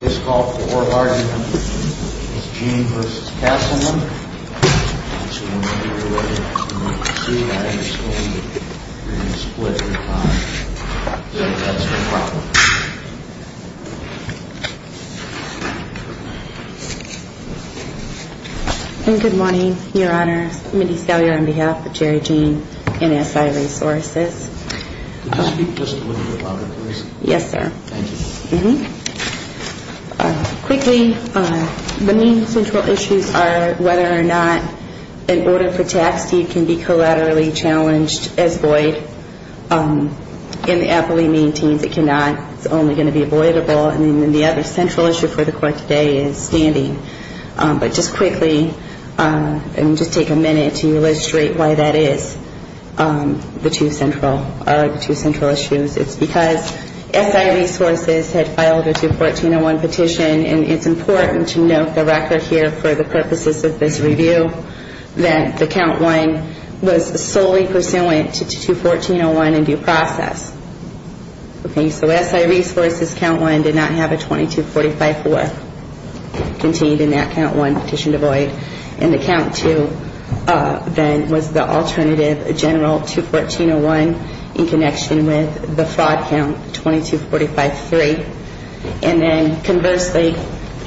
This call for argument is Gene v. Castleman, and so we're going to do it in a two-way scenario. We're going to split the time. So if that's your problem. And good morning, your honors. Middy Salyer on behalf of Chair Gene and S.I. Resources. Can you speak just a little bit louder, please? Yes, sir. Thank you. Mm-hmm. Quickly, the main central issues are whether or not an order for tax deed can be collaterally challenged as void. And the appellee maintains it cannot. It's only going to be avoidable. And then the other central issue for the court today is standing. But just quickly, and just take a minute to illustrate why that is the two central issues. It's because S.I. Resources had filed a 214-01 petition. And it's important to note the record here for the purposes of this review that the count one was solely pursuant to 214-01 in due process. Okay, so S.I. Resources count one did not have a 2245-4 contained in that count one petition to void. And the count two then was the alternative general 214-01 in connection with the fraud count 2245-3. And then conversely,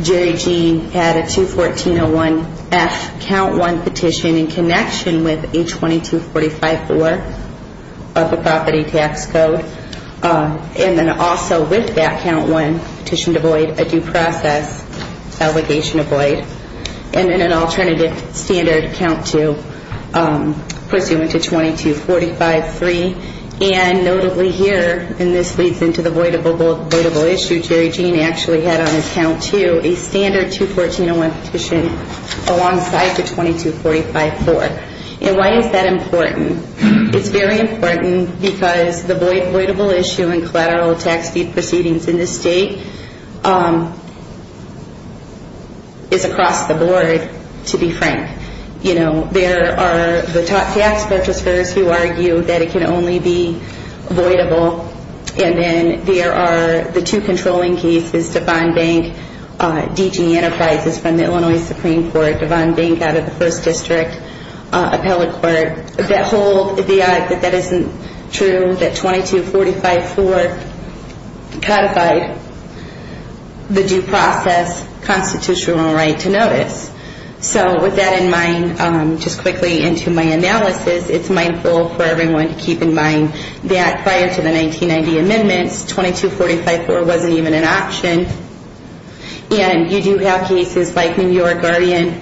Jerry Jean had a 214-01F count one petition in connection with a 2245-4 of the property tax code. And then also with that count one petition to void, a due process allegation to void. And then an alternative standard count two pursuant to 2245-3. And notably here, and this leads into the voidable issue, Jerry Jean actually had on his count two a standard 214-01 petition alongside the 2245-4. And why is that important? It's very important because the voidable issue in collateral tax deed proceedings in this state is across the board, to be frank. You know, there are the tax purchasers who argue that it can only be voidable. And then there are the two controlling cases, Devon Bank D.G. Enterprises from the Illinois Supreme Court, Devon Bank out of the First District Appellate Court, that hold that that isn't true, that 2245-4 codified the due process constitutional right to notice. So with that in mind, just quickly into my analysis, it's mindful for everyone to keep in mind that prior to the 1990 amendments, 2245-4 wasn't even an option. And you do have cases like New York Guardian,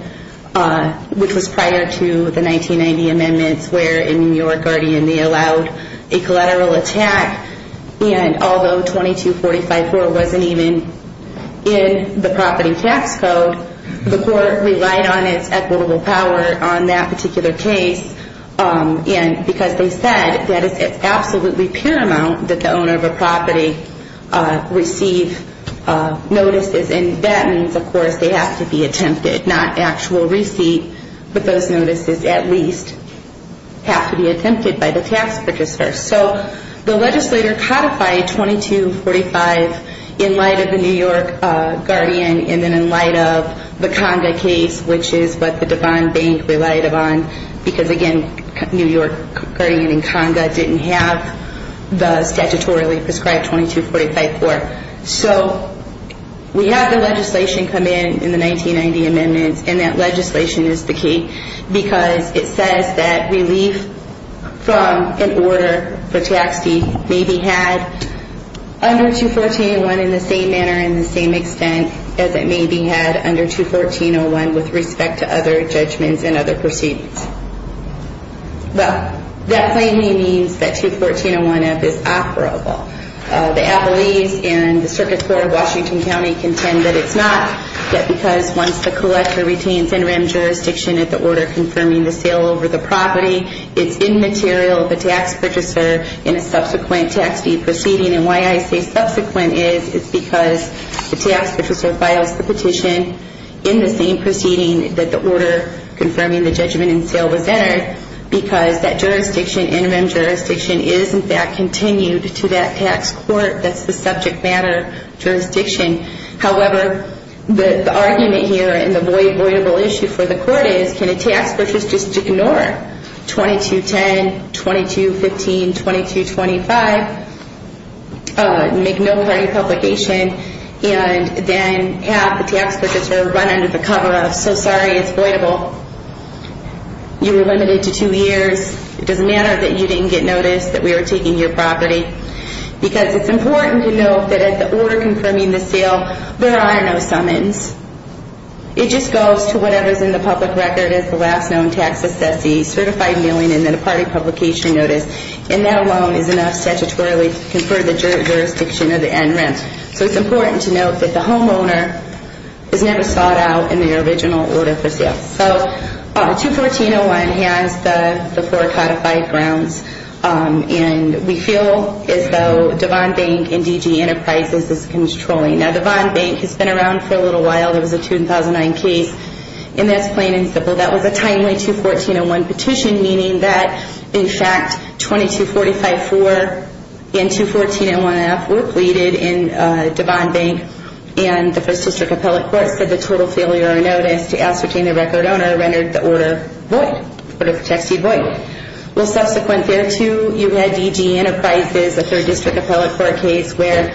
which was prior to the 1990 amendments, where in New York Guardian they allowed a collateral attack. And although 2245-4 wasn't even in the property tax code, the court relied on its equitable power on that particular case. And because they said that it's absolutely paramount that the owner of a property receive notices. And that means, of course, they have to be attempted, not actual receipt. But those notices at least have to be attempted by the tax purchaser. So the legislator codified 2245 in light of the New York Guardian and then in light of the Conga case, which is what the Devon Bank relied upon because, again, New York Guardian and Conga didn't have the statutorily prescribed 2245-4. So we have the legislation come in in the 1990 amendments. And that legislation is the key because it says that relief from an order for tax deed may be had under 214-01 in the same manner and the same extent as it may be had under 214-01 with respect to other judgments and other proceedings. But that plainly means that 214-01F is operable. The appellees and the circuit court of Washington County contend that it's not, yet because once the collector retains interim jurisdiction at the order confirming the sale over the property, it's immaterial of the tax purchaser in a subsequent tax deed proceeding. And why I say subsequent is it's because the tax purchaser files the petition in the same proceeding that the order confirming the judgment and sale was entered because that jurisdiction, interim jurisdiction, is in fact continued to that tax court that's the subject matter jurisdiction. However, the argument here and the voidable issue for the court is can a tax purchaser just ignore 2210, 2215, 2225, make no party publication, and then have the tax purchaser run under the cover of, I'm so sorry, it's voidable. You were limited to two years. It doesn't matter that you didn't get notice that we were taking your property. Because it's important to note that at the order confirming the sale, there are no summons. It just goes to whatever's in the public record as the last known tax assessee, certified milling, and then a party publication notice. And that alone is enough statutorily to confer the jurisdiction of the end rent. So it's important to note that the homeowner is never sought out in their original order for sale. So 21401 has the four codified grounds. And we feel as though Devon Bank and DG Enterprises is controlling. Now, Devon Bank has been around for a little while. There was a 2009 case, and that's plain and simple. That was a timely 21401 petition, meaning that in fact 2245-4 and 21401-F were pleaded in Devon Bank, and the First District Appellate Court said the total failure of notice to ascertain the record owner rendered the order void, the order of the tax deed void. Well, subsequent thereto, you had DG Enterprises, a Third District Appellate Court case, where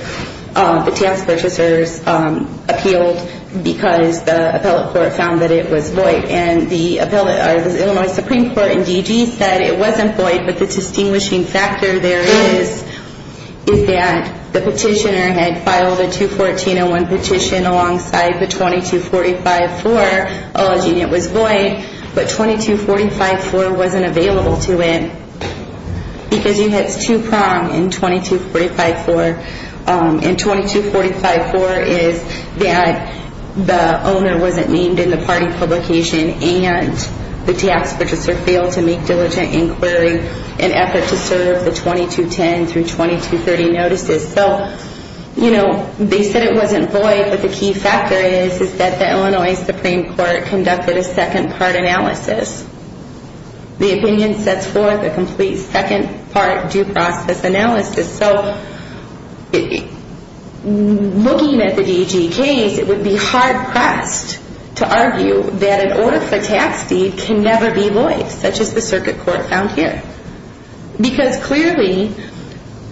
the tax purchasers appealed because the Appellate Court found that it was void. And the Supreme Court in DG said it wasn't void, but the distinguishing factor there is that the petitioner had filed a 21401 petition alongside the 2245-4 alleging it was void, but 2245-4 wasn't available to it because you hit two prong in 2245-4. And 2245-4 is that the owner wasn't named in the party publication, and the tax purchaser failed to make diligent inquiry in effort to serve the 2210-2230 notices. So, you know, they said it wasn't void, but the key factor is that the Illinois Supreme Court conducted a second-part analysis. The opinion sets forth a complete second-part due process analysis. So looking at the DG case, it would be hard-pressed to argue that an order for tax deed can never be void, such as the circuit court found here. Because clearly,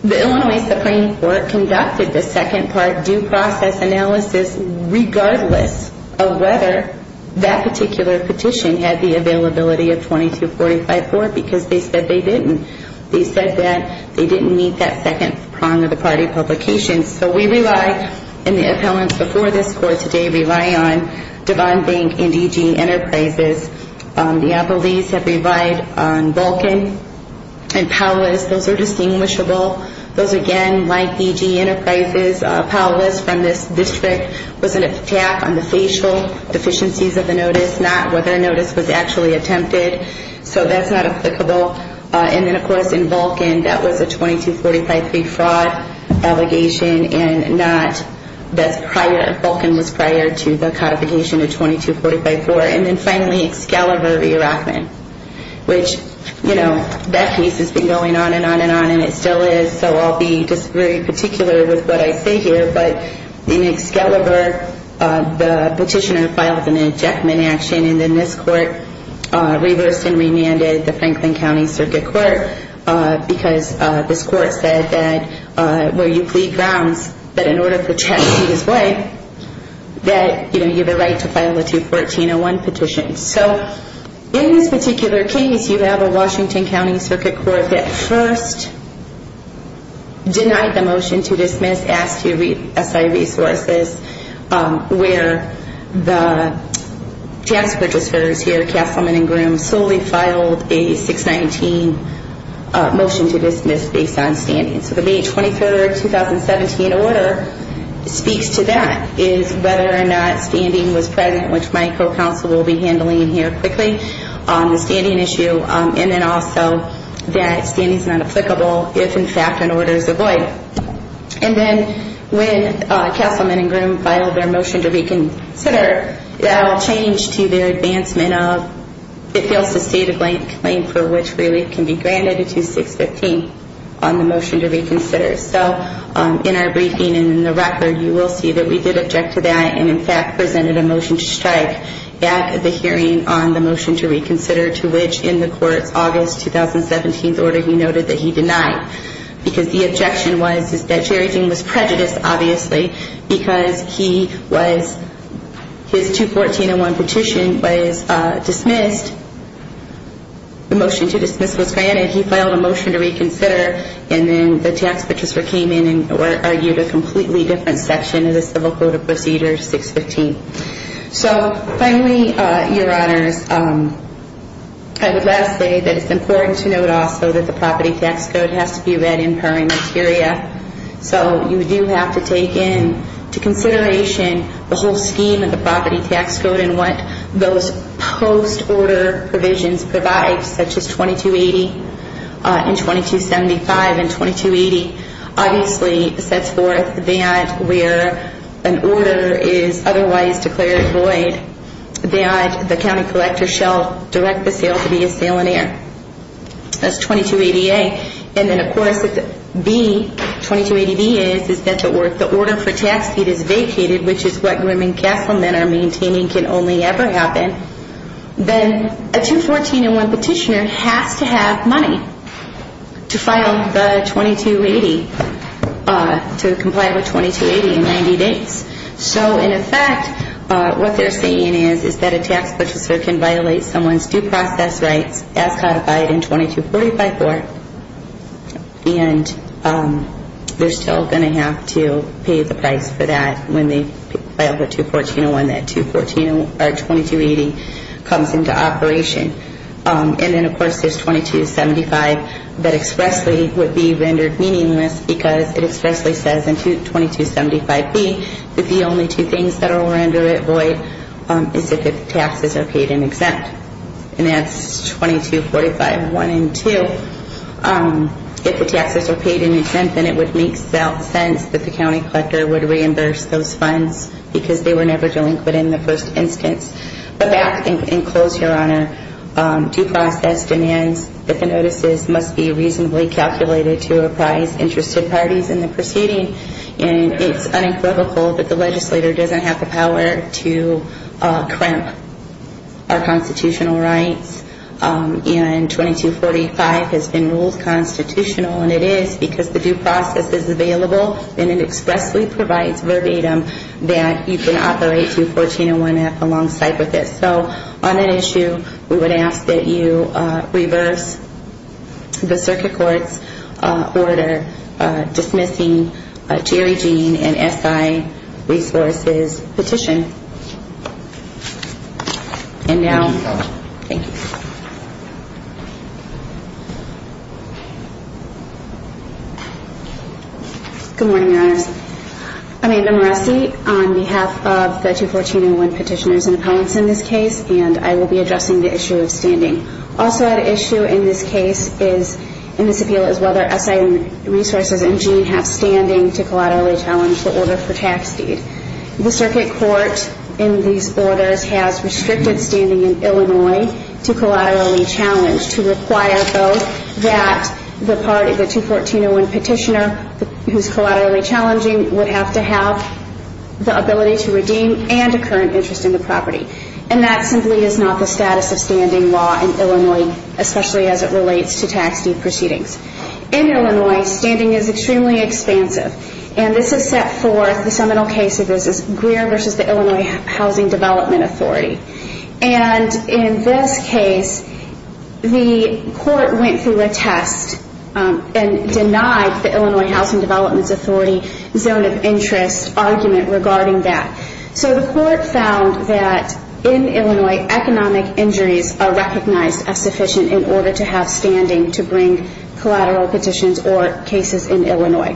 the Illinois Supreme Court conducted the second-part due process analysis regardless of whether that particular petition had the availability of 2245-4 because they said they didn't. They said that they didn't meet that second prong of the party publication. So we rely, in the appellants before this court today, rely on Devon Bank and DG Enterprises. The Appellees have relied on Vulcan and Powles. Those are distinguishable. Those, again, like DG Enterprises, Powles from this district was an attack on the facial deficiencies of the notice, not whether a notice was actually attempted. So that's not applicable. And then, of course, in Vulcan, that was a 2245-3 fraud allegation and not prior. Vulcan was prior to the codification of 2245-4. And then, finally, Excalibur v. Rockman, which, you know, that case has been going on and on and on, and it still is. So I'll be just very particular with what I say here. But in Excalibur, the petitioner filed an ejectment action, and then this court reversed and remanded the Franklin County Circuit Court, because this court said that where you plead grounds, that in order for checks to be displayed, that, you know, you have a right to file a 214-01 petition. So in this particular case, you have a Washington County Circuit Court that first denied the motion to dismiss, and then it was asked to re-assign resources where the task registrars here, Castleman and Groom, solely filed a 619 motion to dismiss based on standing. So the May 23, 2017, order speaks to that, is whether or not standing was present, which my co-counsel will be handling here quickly on the standing issue, and then also that standing is not applicable if, in fact, an order is avoided. And then when Castleman and Groom filed their motion to reconsider, that all changed to their advancement of, it feels, a stated claim for which relief can be granted, a 2615 on the motion to reconsider. So in our briefing and in the record, you will see that we did object to that and, in fact, presented a motion to strike at the hearing on the motion to reconsider, to which, in the court's August 2017 order, he noted that he denied, because the objection was that Sherry Jean was prejudiced, obviously, because his 214-01 petition was dismissed. The motion to dismiss was granted. He filed a motion to reconsider, and then the task registrar came in and argued a completely different section of the Civil Code of Procedure, 615. So finally, Your Honors, I would like to say that it's important to note also that the Property Tax Code has to be read in primary materia. So you do have to take into consideration the whole scheme of the Property Tax Code and what those post-order provisions provide, such as 2280 and 2275. And 2280, obviously, sets forth that where an order is otherwise declared void, that the county collector shall direct the sale to be a salinaire. That's 2280A. And then, of course, 2280B is that if the order for tax deed is vacated, which is what Grimm and Kesselman are maintaining can only ever happen, then a 214-01 petitioner has to have money to file the 2280, to comply with 2280 in 90 days. So, in effect, what they're saying is that a tax purchaser can violate someone's due process rights as codified in 2245-4, and they're still going to have to pay the price for that when they file the 214-01 that 2280 comes into operation. And then, of course, there's 2275 that expressly would be rendered meaningless because it expressly says in 2275B that the only two things that are rendered void is if the taxes are paid in exempt. And that's 2245-1 and 2. If the taxes are paid in exempt, then it would make sense that the county collector would reimburse those funds because they were never delinquent in the first instance. But that, in close, Your Honor, due process demands that the notices must be reasonably calculated to apprise interested parties in the proceeding. And it's unequivocal that the legislator doesn't have the power to cramp our constitutional rights. And 2245 has been ruled constitutional, and it is because the due process is available and it expressly provides verbatim that you can operate 214-1F alongside with it. So on that issue, we would ask that you reverse the circuit court's order dismissing Jerry Jean and SI resources petition. And now, thank you. I'm Amanda Moresi on behalf of the 214-1 petitioners in appellants in this case, and I will be addressing the issue of standing. Also at issue in this case is, in this appeal, is whether SI resources and Jean have standing to collaterally challenge the order for tax deed. The circuit court in these orders has restricted standing in Illinois to collaterally challenge, to require, though, that the part of the 214-1 petitioner who's collaterally challenging would have to have the ability to redeem and a current interest in the property. And that simply is not the status of standing law in Illinois, especially as it relates to tax deed proceedings. In Illinois, standing is extremely expansive. And this is set forth in the seminal case of Greer v. Illinois Housing Development Authority. And in this case, the court went through a test and denied the Illinois Housing Development Authority zone of interest argument regarding that. So the court found that, in Illinois, economic injuries are recognized as sufficient in order to have standing to bring collateral petitions or cases in Illinois.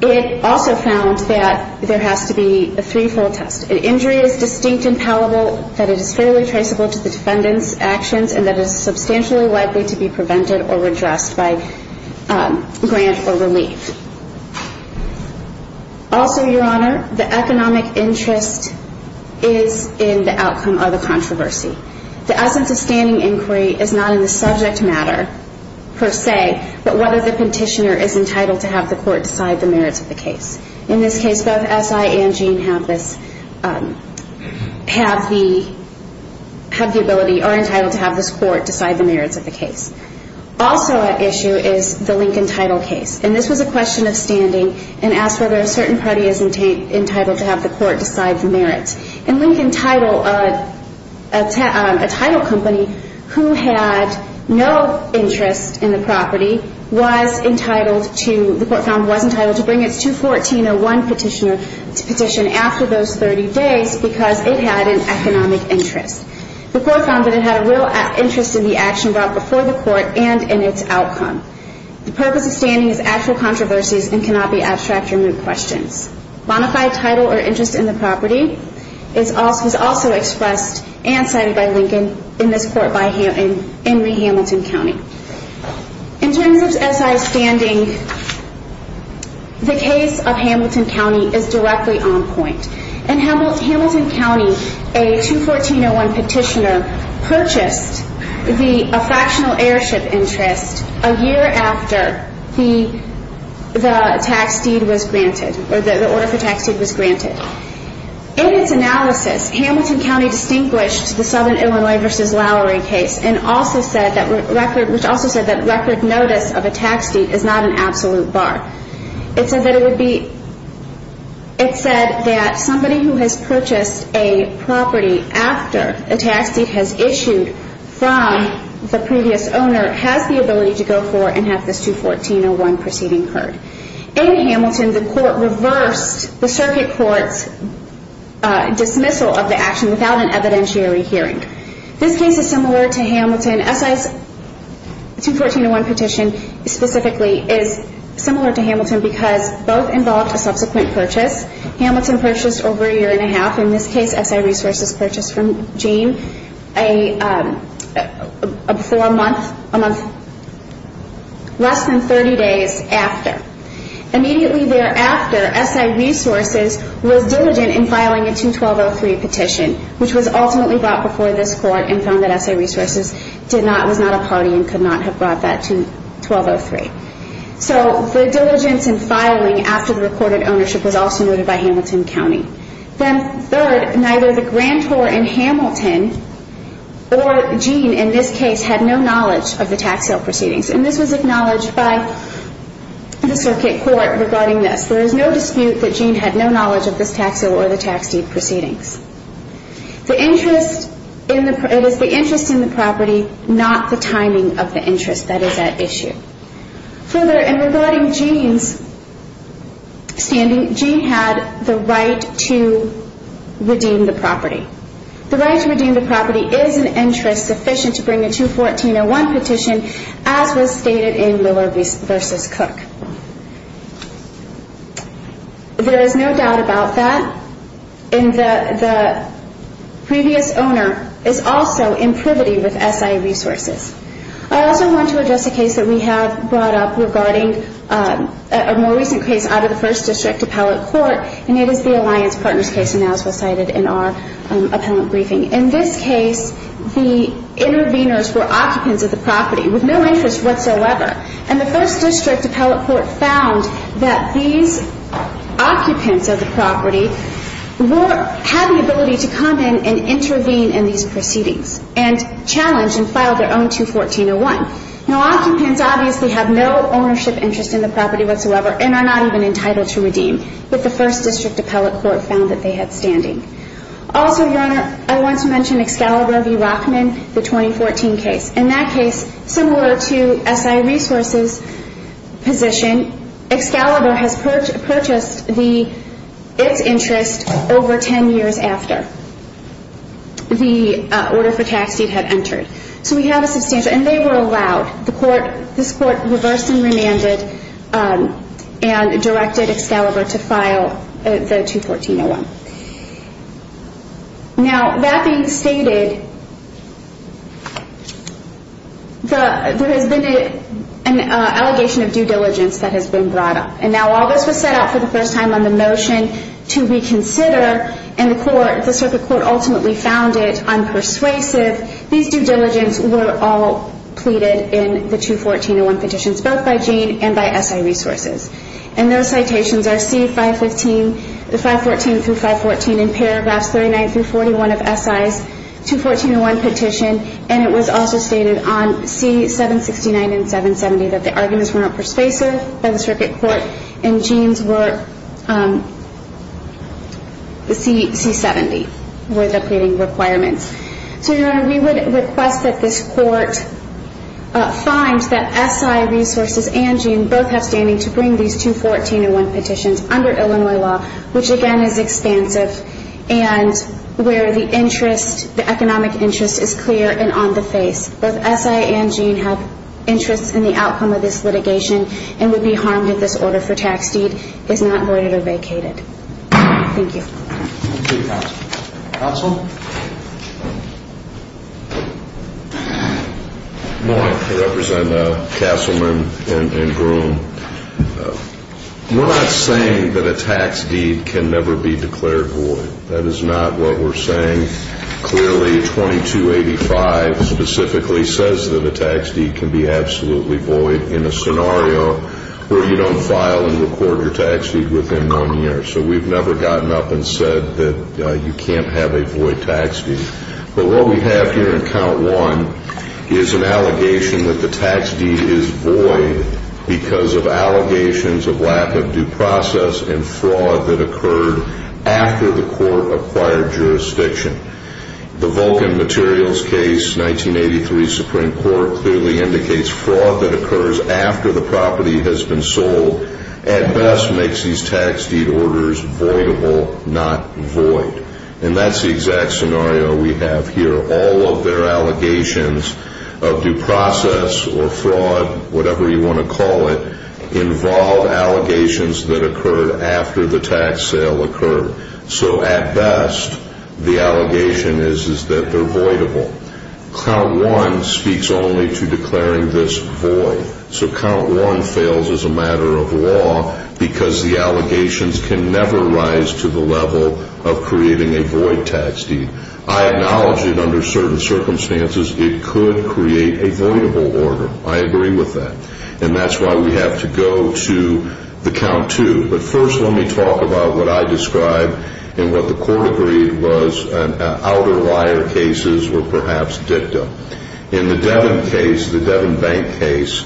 It also found that there has to be a three-fold test. An injury is distinct and palatable, that it is fairly traceable to the defendant's actions, and that it is substantially likely to be prevented or redressed by grant or relief. Also, Your Honor, the economic interest is in the outcome of the controversy. The essence of standing inquiry is not in the subject matter, per se, but whether the petitioner is entitled to have the court decide the merits of the case. In this case, both S.I. and Jean have the ability or are entitled to have this court decide the merits of the case. Also at issue is the Lincoln Title case. And this was a question of standing and asked whether a certain party is entitled to have the court decide the merits. And Lincoln Title, a title company who had no interest in the property, the court found was entitled to bring its 214-01 petition after those 30 days because it had an economic interest. The court found that it had a real interest in the action brought before the court and in its outcome. The purpose of standing is actual controversies and cannot be abstract or moot questions. Bonafide title or interest in the property was also expressed and cited by Lincoln in this court by Henry Hamilton County. In terms of S.I. standing, the case of Hamilton County is directly on point. In Hamilton County, a 214-01 petitioner purchased a fractional airship interest a year after the tax deed was granted or the order for tax deed was granted. In its analysis, Hamilton County distinguished the Southern Illinois v. Lowery case and also said that record notice of a tax deed is not an absolute bar. It said that somebody who has purchased a property after a tax deed has issued from the previous owner has the ability to go for and have this 214-01 proceeding heard. In Hamilton, the court reversed the circuit court's dismissal of the action without an evidentiary hearing. This case is similar to Hamilton. S.I.'s 214-01 petition specifically is similar to Hamilton because both involved a subsequent purchase. Hamilton purchased over a year and a half. In this case, S.I. Resources purchased from Jane less than 30 days after. Immediately thereafter, S.I. Resources was diligent in filing a 214-03 petition, which was ultimately brought before this court and found that S.I. Resources was not a party and could not have brought that 214-03. The diligence in filing after the recorded ownership was also noted by Hamilton County. Third, neither the grantor in Hamilton or Jane in this case had no knowledge of the tax sale proceedings. This was acknowledged by the circuit court regarding this. There is no dispute that Jane had no knowledge of this tax sale or the tax deed proceedings. It is the interest in the property, not the timing of the interest that is at issue. Further, in regarding Jane's standing, Jane had the right to redeem the property. The right to redeem the property is an interest sufficient to bring a 214-01 petition, as was stated in Miller v. Cook. There is no doubt about that. The previous owner is also in privity with S.I. Resources. I also want to address a case that we have brought up regarding a more recent case out of the First District Appellate Court. It is the Alliance Partners case, as was cited in our appellant briefing. In this case, the interveners were occupants of the property with no interest whatsoever. And the First District Appellate Court found that these occupants of the property had the ability to come in and intervene in these proceedings and challenge and file their own 214-01. Now, occupants obviously have no ownership interest in the property whatsoever and are not even entitled to redeem, but the First District Appellate Court found that they had standing. Also, Your Honor, I want to mention Excalibur v. Rockman, the 2014 case. In that case, similar to S.I. Resources' position, Excalibur has purchased its interest over 10 years after the order for tax deed had entered. So we have a substantial, and they were allowed, this court reversed and remanded and directed Excalibur to file the 214-01. Now, that being stated, there has been an allegation of due diligence that has been brought up. And now, while this was set up for the first time on the notion to reconsider, and the circuit court ultimately found it unpersuasive, these due diligence were all pleaded in the 214-01 petitions, both by Jane and by S.I. Resources. And those citations are C-514 through 514 in paragraphs 39 through 41 of S.I.'s 214-01 petition, and it was also stated on C-769 and 770 that the arguments were not persuasive by the circuit court, and Jane's were C-70 were the pleading requirements. So, Your Honor, we would request that this court find that S.I. Resources and Jane both have standing to bring these 214-01 petitions under Illinois law, which, again, is expansive and where the interest, the economic interest, is clear and on the face. Both S.I. and Jane have interests in the outcome of this litigation and would be harmed if this order for tax deed is not voided or vacated. Thank you. Thank you, counsel. Counsel? Good morning. I represent Castleman and Groom. We're not saying that a tax deed can never be declared void. That is not what we're saying. Clearly, 2285 specifically says that a tax deed can be absolutely void in a scenario where you don't file and record your tax deed within one year. So we've never gotten up and said that you can't have a void tax deed. But what we have here in count one is an allegation that the tax deed is void because of allegations of lack of due process and fraud that occurred after the court acquired jurisdiction. The Vulcan Materials case, 1983 Supreme Court, clearly indicates fraud that occurs after the property has been sold at best makes these tax deed orders voidable, not void. And that's the exact scenario we have here. All of their allegations of due process or fraud, whatever you want to call it, involve allegations that occurred after the tax sale occurred. So at best, the allegation is that they're voidable. Count one speaks only to declaring this void. So count one fails as a matter of law because the allegations can never rise to the level of creating a void tax deed. I acknowledge that under certain circumstances, it could create a voidable order. I agree with that. And that's why we have to go to the count two. But first, let me talk about what I described and what the court agreed was outer wire cases were perhaps dictum. In the Devin case, the Devin Bank case,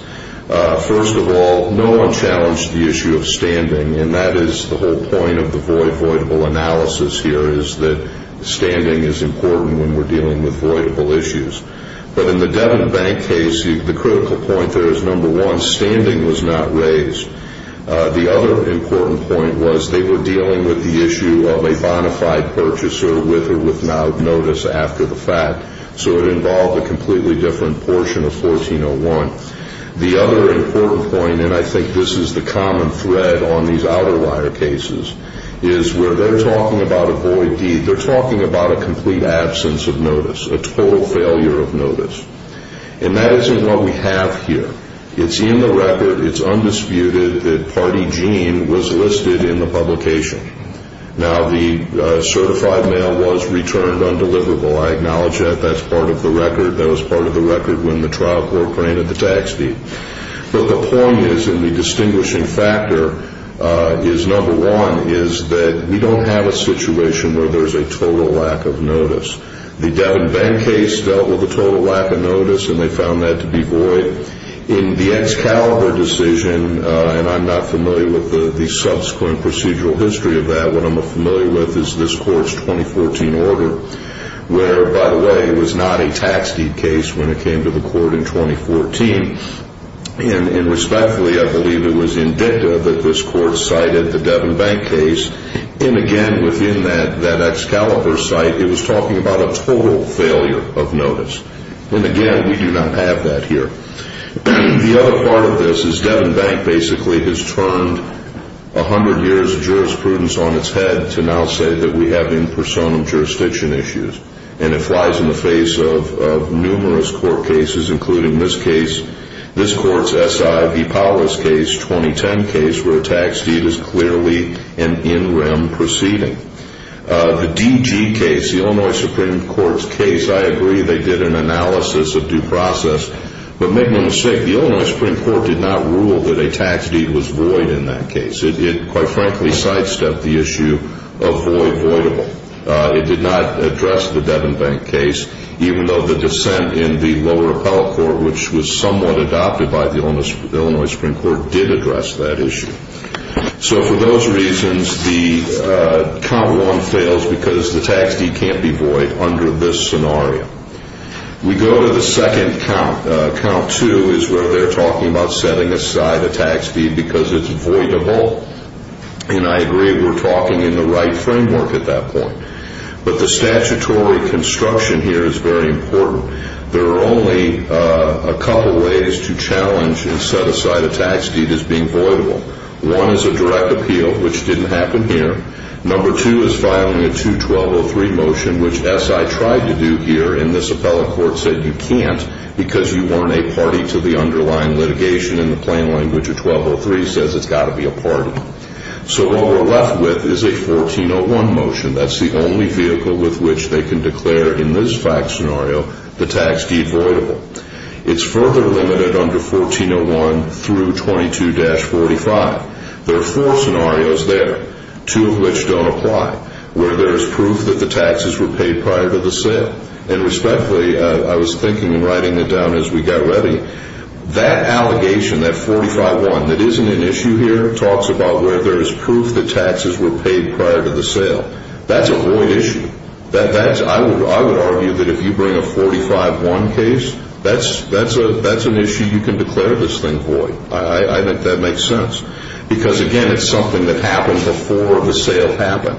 first of all, no one challenged the issue of standing. And that is the whole point of the voidable analysis here is that standing is important when we're dealing with voidable issues. But in the Devin Bank case, the critical point there is, number one, standing was not raised. The other important point was they were dealing with the issue of a bona fide purchaser with or without notice after the fact. So it involved a completely different portion of 1401. The other important point, and I think this is the common thread on these outer wire cases, is where they're talking about a void deed, they're talking about a complete absence of notice, a total failure of notice. And that isn't what we have here. It's in the record. It's undisputed that party gene was listed in the publication. Now, the certified mail was returned undeliverable. I acknowledge that. That's part of the record. That was part of the record when the trial court granted the tax deed. But the point is, and the distinguishing factor is, number one, is that we don't have a situation where there's a total lack of notice. The Devin Bank case dealt with a total lack of notice, and they found that to be void. In the Excalibur decision, and I'm not familiar with the subsequent procedural history of that, what I'm familiar with is this court's 2014 order, where, by the way, it was not a tax deed case when it came to the court in 2014. And respectfully, I believe it was indicative that this court cited the Devin Bank case. And again, within that Excalibur site, it was talking about a total failure of notice. And again, we do not have that here. The other part of this is Devin Bank basically has turned 100 years of jurisprudence on its head to now say that we have in personam jurisdiction issues. And it flies in the face of numerous court cases, including this case, this court's S.I.V. Powers case, 2010 case, where a tax deed is clearly an in rem proceeding. The D.G. case, the Illinois Supreme Court's case, I agree they did an analysis of due process. But make no mistake, the Illinois Supreme Court did not rule that a tax deed was void in that case. It quite frankly sidestepped the issue of void voidable. It did not address the Devin Bank case, even though the dissent in the lower appellate court, which was somewhat adopted by the Illinois Supreme Court, did address that issue. So for those reasons, the count one fails because the tax deed can't be void under this scenario. We go to the second count, count two, is where they're talking about setting aside a tax deed because it's voidable. And I agree we're talking in the right framework at that point. But the statutory construction here is very important. There are only a couple ways to challenge and set aside a tax deed as being voidable. One is a direct appeal, which didn't happen here. Number two is filing a 2-1203 motion, which, as I tried to do here in this appellate court, said you can't because you weren't a party to the underlying litigation in the plain language of 1203 says it's got to be a party. So what we're left with is a 1401 motion. That's the only vehicle with which they can declare in this fact scenario the tax deed voidable. It's further limited under 1401 through 22-45. There are four scenarios there, two of which don't apply, where there is proof that the taxes were paid prior to the sale. And respectfully, I was thinking in writing it down as we got ready, that allegation, that 45-1, that isn't an issue here, talks about where there is proof that taxes were paid prior to the sale. That's a void issue. I would argue that if you bring a 45-1 case, that's an issue you can declare this thing void. I think that makes sense because, again, it's something that happened before the sale happened,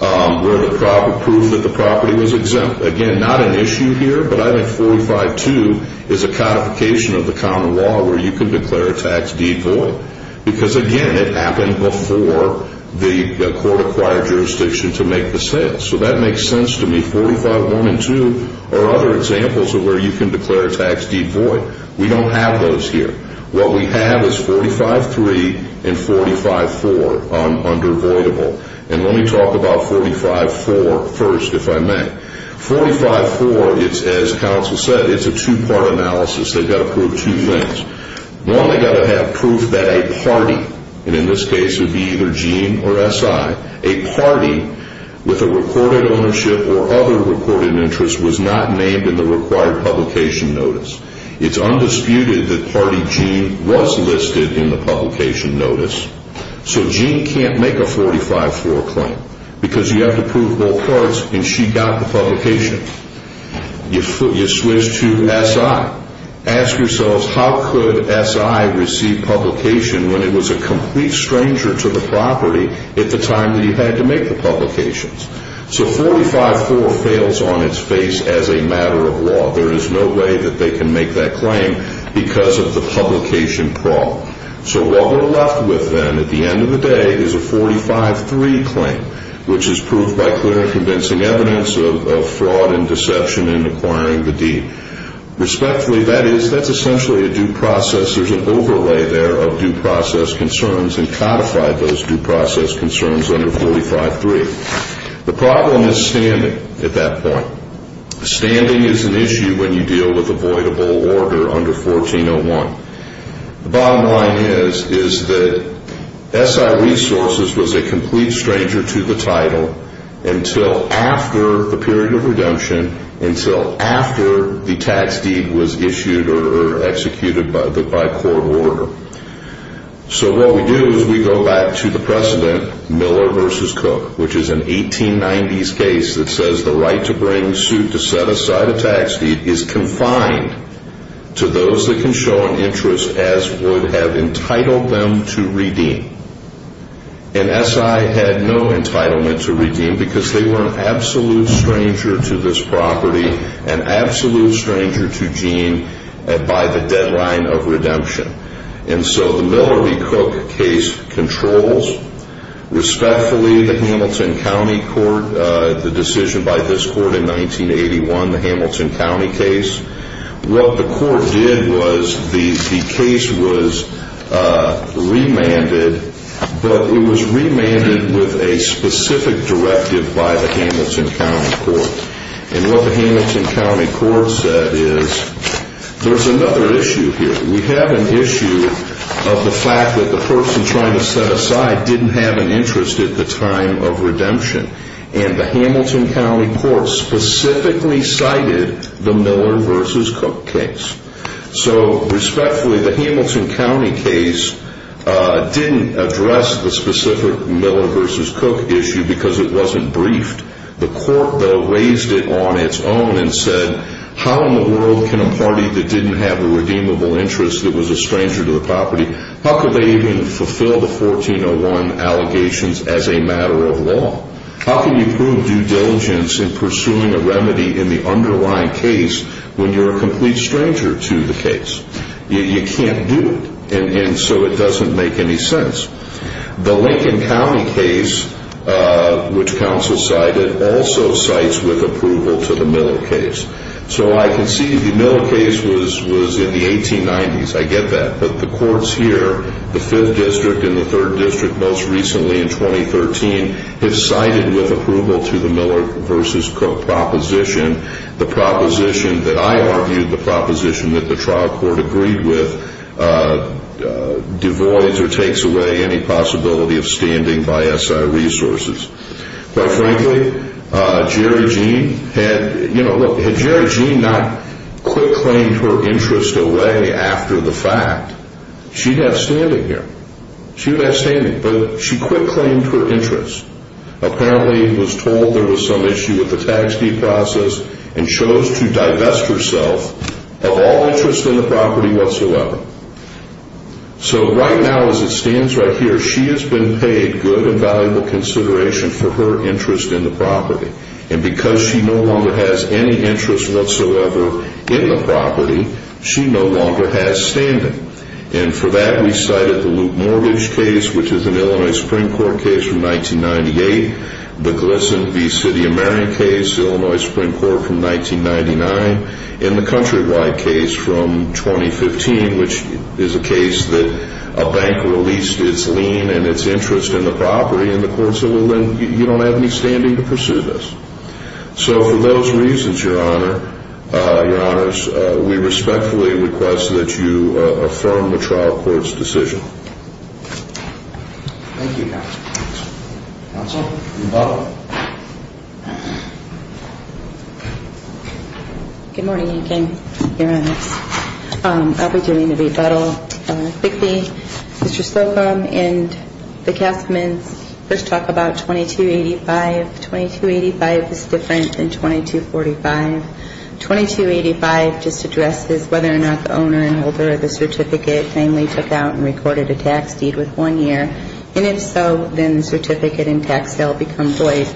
where the problem proved that the property was exempt. Again, not an issue here, but I think 45-2 is a codification of the common law where you can declare a tax deed void because, again, it happened before the court acquired jurisdiction to make the sale. So that makes sense to me. 45-1 and 2 are other examples of where you can declare a tax deed void. We don't have those here. What we have is 45-3 and 45-4 under voidable. And let me talk about 45-4 first, if I may. 45-4, as counsel said, it's a two-part analysis. They've got to prove two things. One, they've got to have proof that a party, and in this case it would be either Gene or SI, a party with a recorded ownership or other recorded interest was not named in the required publication notice. It's undisputed that party Gene was listed in the publication notice. So Gene can't make a 45-4 claim because you have to prove both parts, and she got the publication. You switch to SI. Ask yourselves, how could SI receive publication when it was a complete stranger to the property at the time that you had to make the publications? So 45-4 fails on its face as a matter of law. There is no way that they can make that claim because of the publication problem. So what we're left with then at the end of the day is a 45-3 claim, which is proved by clear and convincing evidence of fraud and deception in acquiring the deed. Respectfully, that is, that's essentially a due process. There's an overlay there of due process concerns and codified those due process concerns under 45-3. The problem is standing at that point. Standing is an issue when you deal with avoidable order under 1401. The bottom line is that SI Resources was a complete stranger to the title until after the period of redemption, until after the tax deed was issued or executed by court order. So what we do is we go back to the precedent, Miller v. Cook, which is an 1890s case that says the right to bring suit to set aside a tax deed is confined to those that can show an interest as would have entitled them to redeem. And SI had no entitlement to redeem because they were an absolute stranger to this property, an absolute stranger to Jean by the deadline of redemption. And so the Miller v. Cook case controls respectfully the Hamilton County Court, the decision by this court in 1981, the Hamilton County case. What the court did was the case was remanded, but it was remanded with a specific directive by the Hamilton County Court. And what the Hamilton County Court said is there's another issue here. We have an issue of the fact that the person trying to set aside didn't have an interest at the time of redemption. And the Hamilton County Court specifically cited the Miller v. Cook case. So respectfully, the Hamilton County case didn't address the specific Miller v. Cook issue because it wasn't briefed. The court, though, raised it on its own and said, how in the world can a party that didn't have a redeemable interest that was a stranger to the property, how could they even fulfill the 1401 allegations as a matter of law? How can you prove due diligence in pursuing a remedy in the underlying case when you're a complete stranger to the case? You can't do it. And so it doesn't make any sense. The Lincoln County case, which counsel cited, also cites with approval to the Miller case. So I can see the Miller case was in the 1890s. I get that. But the courts here, the 5th District and the 3rd District most recently in 2013, have cited with approval to the Miller v. Cook proposition. The proposition that I argued, the proposition that the trial court agreed with, devoids or takes away any possibility of standing by S.I. resources. Quite frankly, Jerry Jean had, you know, look, had Jerry Jean not quick-claimed her interest away after the fact, she'd have standing here. She'd have standing. But she quick-claimed her interest. Apparently was told there was some issue with the tax deed process and chose to divest herself of all interest in the property whatsoever. So right now, as it stands right here, she has been paid good and valuable consideration for her interest in the property. And because she no longer has any interest whatsoever in the property, she no longer has standing. And for that, we cited the Luke Mortgage case, which is an Illinois Supreme Court case from 1998, the Gleason v. City of Marion case, Illinois Supreme Court from 1999, and the Countrywide case from 2015, which is a case that a bank released its lien and its interest in the property, and the court said, well, then you don't have any standing to pursue this. So for those reasons, Your Honor, Your Honors, we respectfully request that you affirm the trial court's decision. Thank you, Counsel. Counsel, rebuttal. Good morning, again, Your Honors. I'll be doing the rebuttal quickly. Mr. Slocum and the castaments first talk about 2285. 2285 is different than 2245. 2285 just addresses whether or not the owner and holder of the certificate finally took out and recorded a tax deed with one year. And if so, then the certificate and tax sale become void.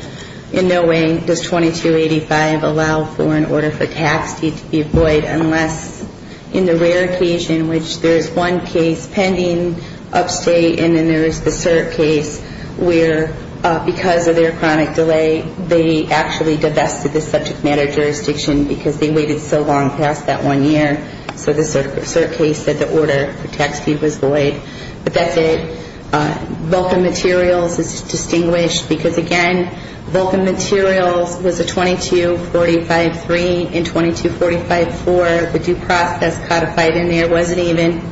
In no way does 2285 allow for an order for tax deed to be void unless, in the rare occasion in which there is one case pending upstate and then there is the cert case where, because of their chronic delay, they actually divested the subject matter jurisdiction because they waited so long past that one year. So the cert case said the order for tax deed was void. But that's it. Vulcan Materials is distinguished because, again, Vulcan Materials was a 2245-3 and 2245-4. The due process codified in there wasn't even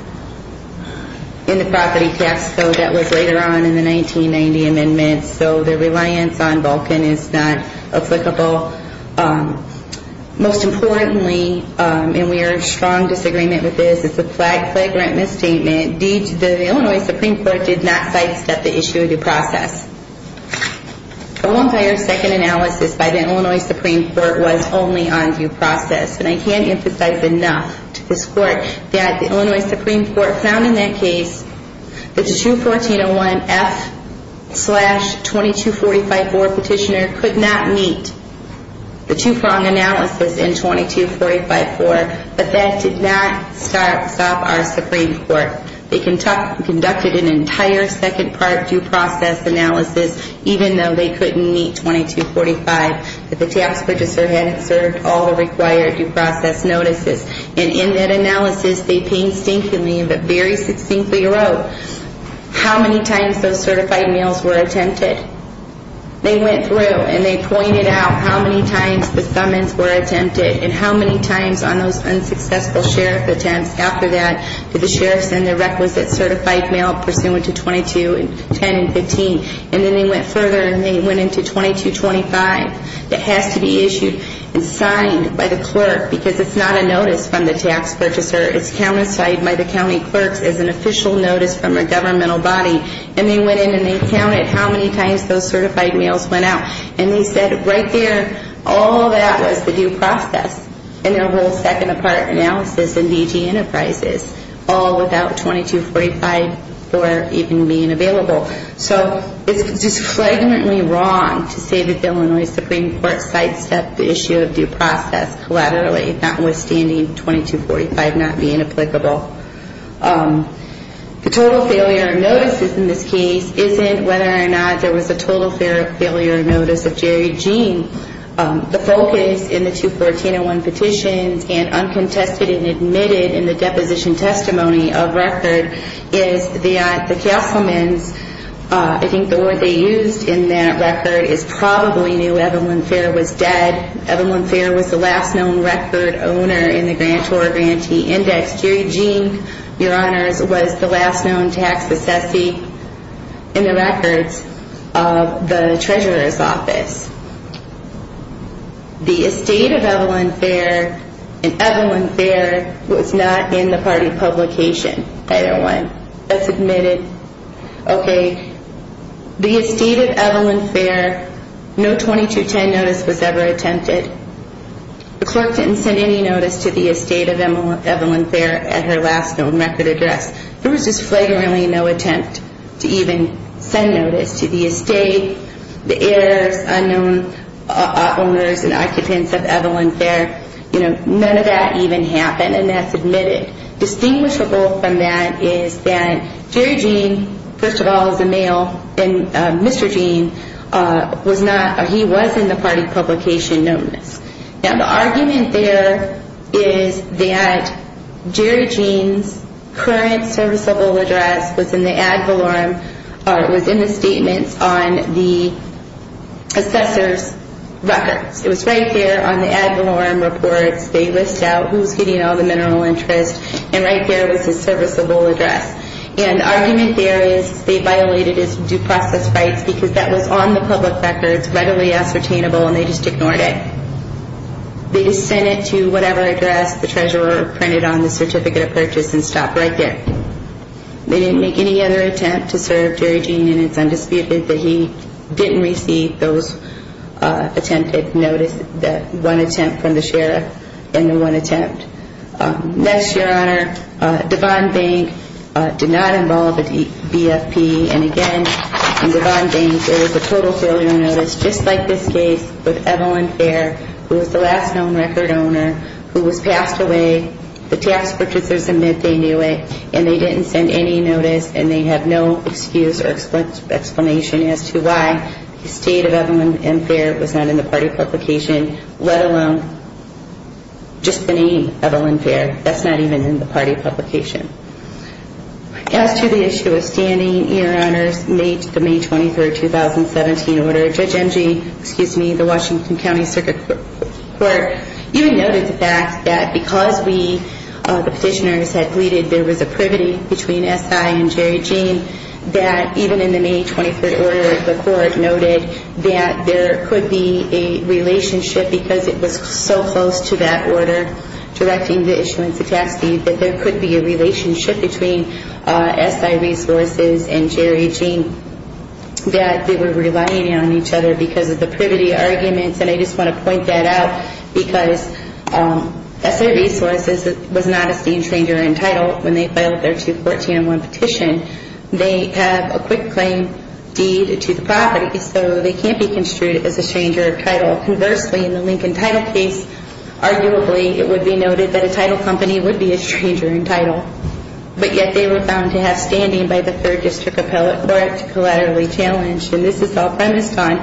in the property tax code that was later on in the 1990 amendments. So the reliance on Vulcan is not applicable. Most importantly, and we are in strong disagreement with this, it's a flagrant misstatement. The Illinois Supreme Court did not sidestep the issue of due process. The one prior second analysis by the Illinois Supreme Court was only on due process. And I can't emphasize enough to this Court that the Illinois Supreme Court found in that case that the 214-01-F-2245-4 petitioner could not meet the two-prong analysis in 2245-4, but that did not stop our Supreme Court. They conducted an entire second part due process analysis, even though they couldn't meet 2245, that the tax purchaser hadn't served all the required due process notices. And in that analysis, they painstakingly but very succinctly wrote how many times those certified mails were attempted. They went through and they pointed out how many times the summons were attempted and how many times on those unsuccessful sheriff attempts after that did the sheriff send the requisite certified mail pursuant to 2210 and 15. And then they went further and they went into 2225 that has to be issued and signed by the clerk because it's not a notice from the tax purchaser. It's countersigned by the county clerks as an official notice from a governmental body. And they went in and they counted how many times those certified mails went out. And they said right there, all that was the due process. And their whole second part analysis in DG Enterprises, all without 2245-4 even being available. So it's just flagrantly wrong to say the Illinois Supreme Court sidestepped the issue of due process collaterally, notwithstanding 2245 not being applicable. The total failure of notices in this case isn't whether or not there was a total failure of notice of Jerry Jean. The focus in the 214-01 petitions and uncontested and admitted in the deposition testimony of record is that the councilman's, I think the word they used in that record is probably knew Evelyn Fair was dead. Evelyn Fair was the last known record owner in the grantor grantee index. Jerry Jean, your honors, was the last known tax assessee in the records of the treasurer's office. The estate of Evelyn Fair and Evelyn Fair was not in the party publication, either one. That's admitted. Okay, the estate of Evelyn Fair, no 2210 notice was ever attempted. The clerk didn't send any notice to the estate of Evelyn Fair at her last known record address. There was just flagrantly no attempt to even send notice to the estate, the heirs, unknown owners and occupants of Evelyn Fair. None of that even happened, and that's admitted. Distinguishable from that is that Jerry Jean, first of all, is a male, and Mr. Jean was not or he was in the party publication notice. Now, the argument there is that Jerry Jean's current serviceable address was in the ad valorem, or it was in the statements on the assessor's records. It was right there on the ad valorem reports. They list out who's getting all the mineral interest, and right there was his serviceable address. And the argument there is they violated his due process rights because that was on the public records, readily ascertainable, and they just ignored it. They sent it to whatever address the treasurer printed on the certificate of purchase and stopped right there. They didn't make any other attempt to serve Jerry Jean, and it's undisputed that he didn't receive those attempted notices, that one attempt from the sheriff and the one attempt. Next, Your Honor, Devon Bank did not involve a BFP, and again, in Devon Bank, there was a total failure notice, just like this case, with Evelyn Fair, who was the last known record owner, who was passed away. The tax purchasers admit they knew it, and they didn't send any notice, and they have no excuse or explanation as to why the state of Evelyn Fair was not in the party publication, let alone just the name Evelyn Fair. That's not even in the party publication. As to the issue of standing, Your Honor, the May 23, 2017 order, Judge M.G., excuse me, the Washington County Circuit Court even noted the fact that because we, the petitioners, had pleaded, there was a privity between SI and Jerry Jean, that even in the May 23rd order, the court noted that there could be a relationship, because it was so close to that order directing the issuance of tax leave, that there could be a relationship between SI Resources and Jerry Jean, that they were relying on each other because of the privity arguments, and I just want to point that out, because SI Resources was not a seen stranger in title when they filed their 214-1 petition. They have a quick claim deed to the property, so they can't be construed as a stranger of title. Conversely, in the Lincoln title case, arguably, it would be noted that a title company would be a stranger in title, but yet they were found to have standing by the third district appellate court to collaterally challenge, and this is all premised on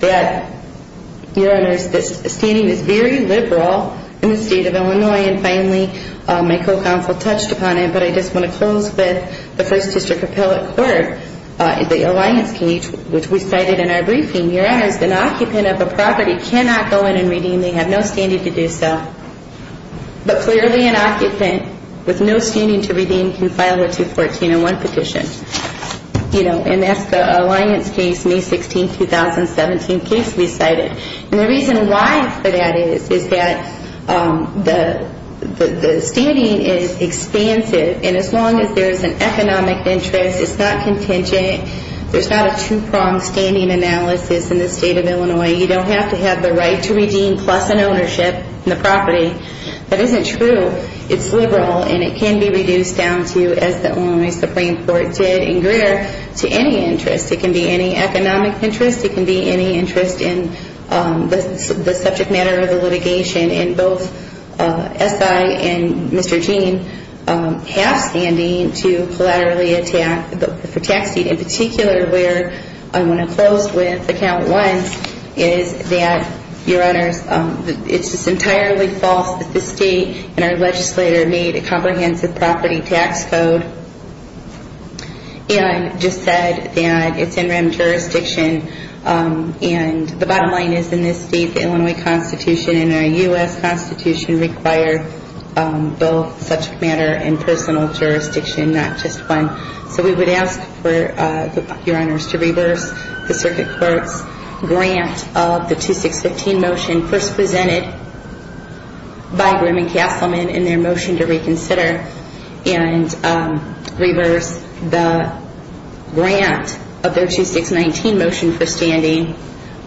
that, your honors, the standing is very liberal in the state of Illinois, and finally, my co-counsel touched upon it, but I just want to close with the first district appellate court, the alliance case, which we cited in our briefing, your honors, an occupant of a property cannot go in and redeem, they have no standing to do so, but clearly an occupant with no standing to redeem can file a 214-1 petition, and that's the alliance case, May 16, 2017 case we cited, and the reason why for that is, is that the standing is expansive, and as long as there's an economic interest, it's not contingent, there's not a two-pronged standing analysis in the state of Illinois, you don't have to have the right to redeem plus an ownership in the property, that isn't true, it's liberal, and it can be reduced down to, as the Illinois Supreme Court did in Greer, to any interest, it can be any economic interest, it can be any interest in the subject matter of the litigation, and both SI and Mr. Gene have standing to collaterally attack the tax seat, in particular where I want to close with account one, is that, your honors, it's just entirely false that the state and our legislator made a comprehensive property tax code, and just said that it's NREM jurisdiction, and the bottom line is, in this state, the Illinois Constitution and our U.S. Constitution require both subject matter and personal jurisdiction, not just one, so we would ask for, your honors, to reverse the circuit court's grant of the 2615 motion first presented by Grimm and Castleman in their motion to reconsider, and reverse the grant of their 2619 motion for standing,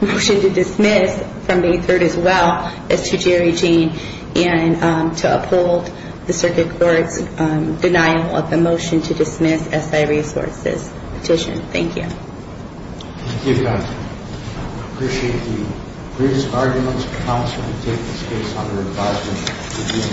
motion to dismiss from May 3rd as well, as to Jerry Gene, and to uphold the circuit court's denial of the motion to dismiss SI resources petition. Thank you. Thank you, counsel. I appreciate the briefest arguments, counsel, to take this case under advisement.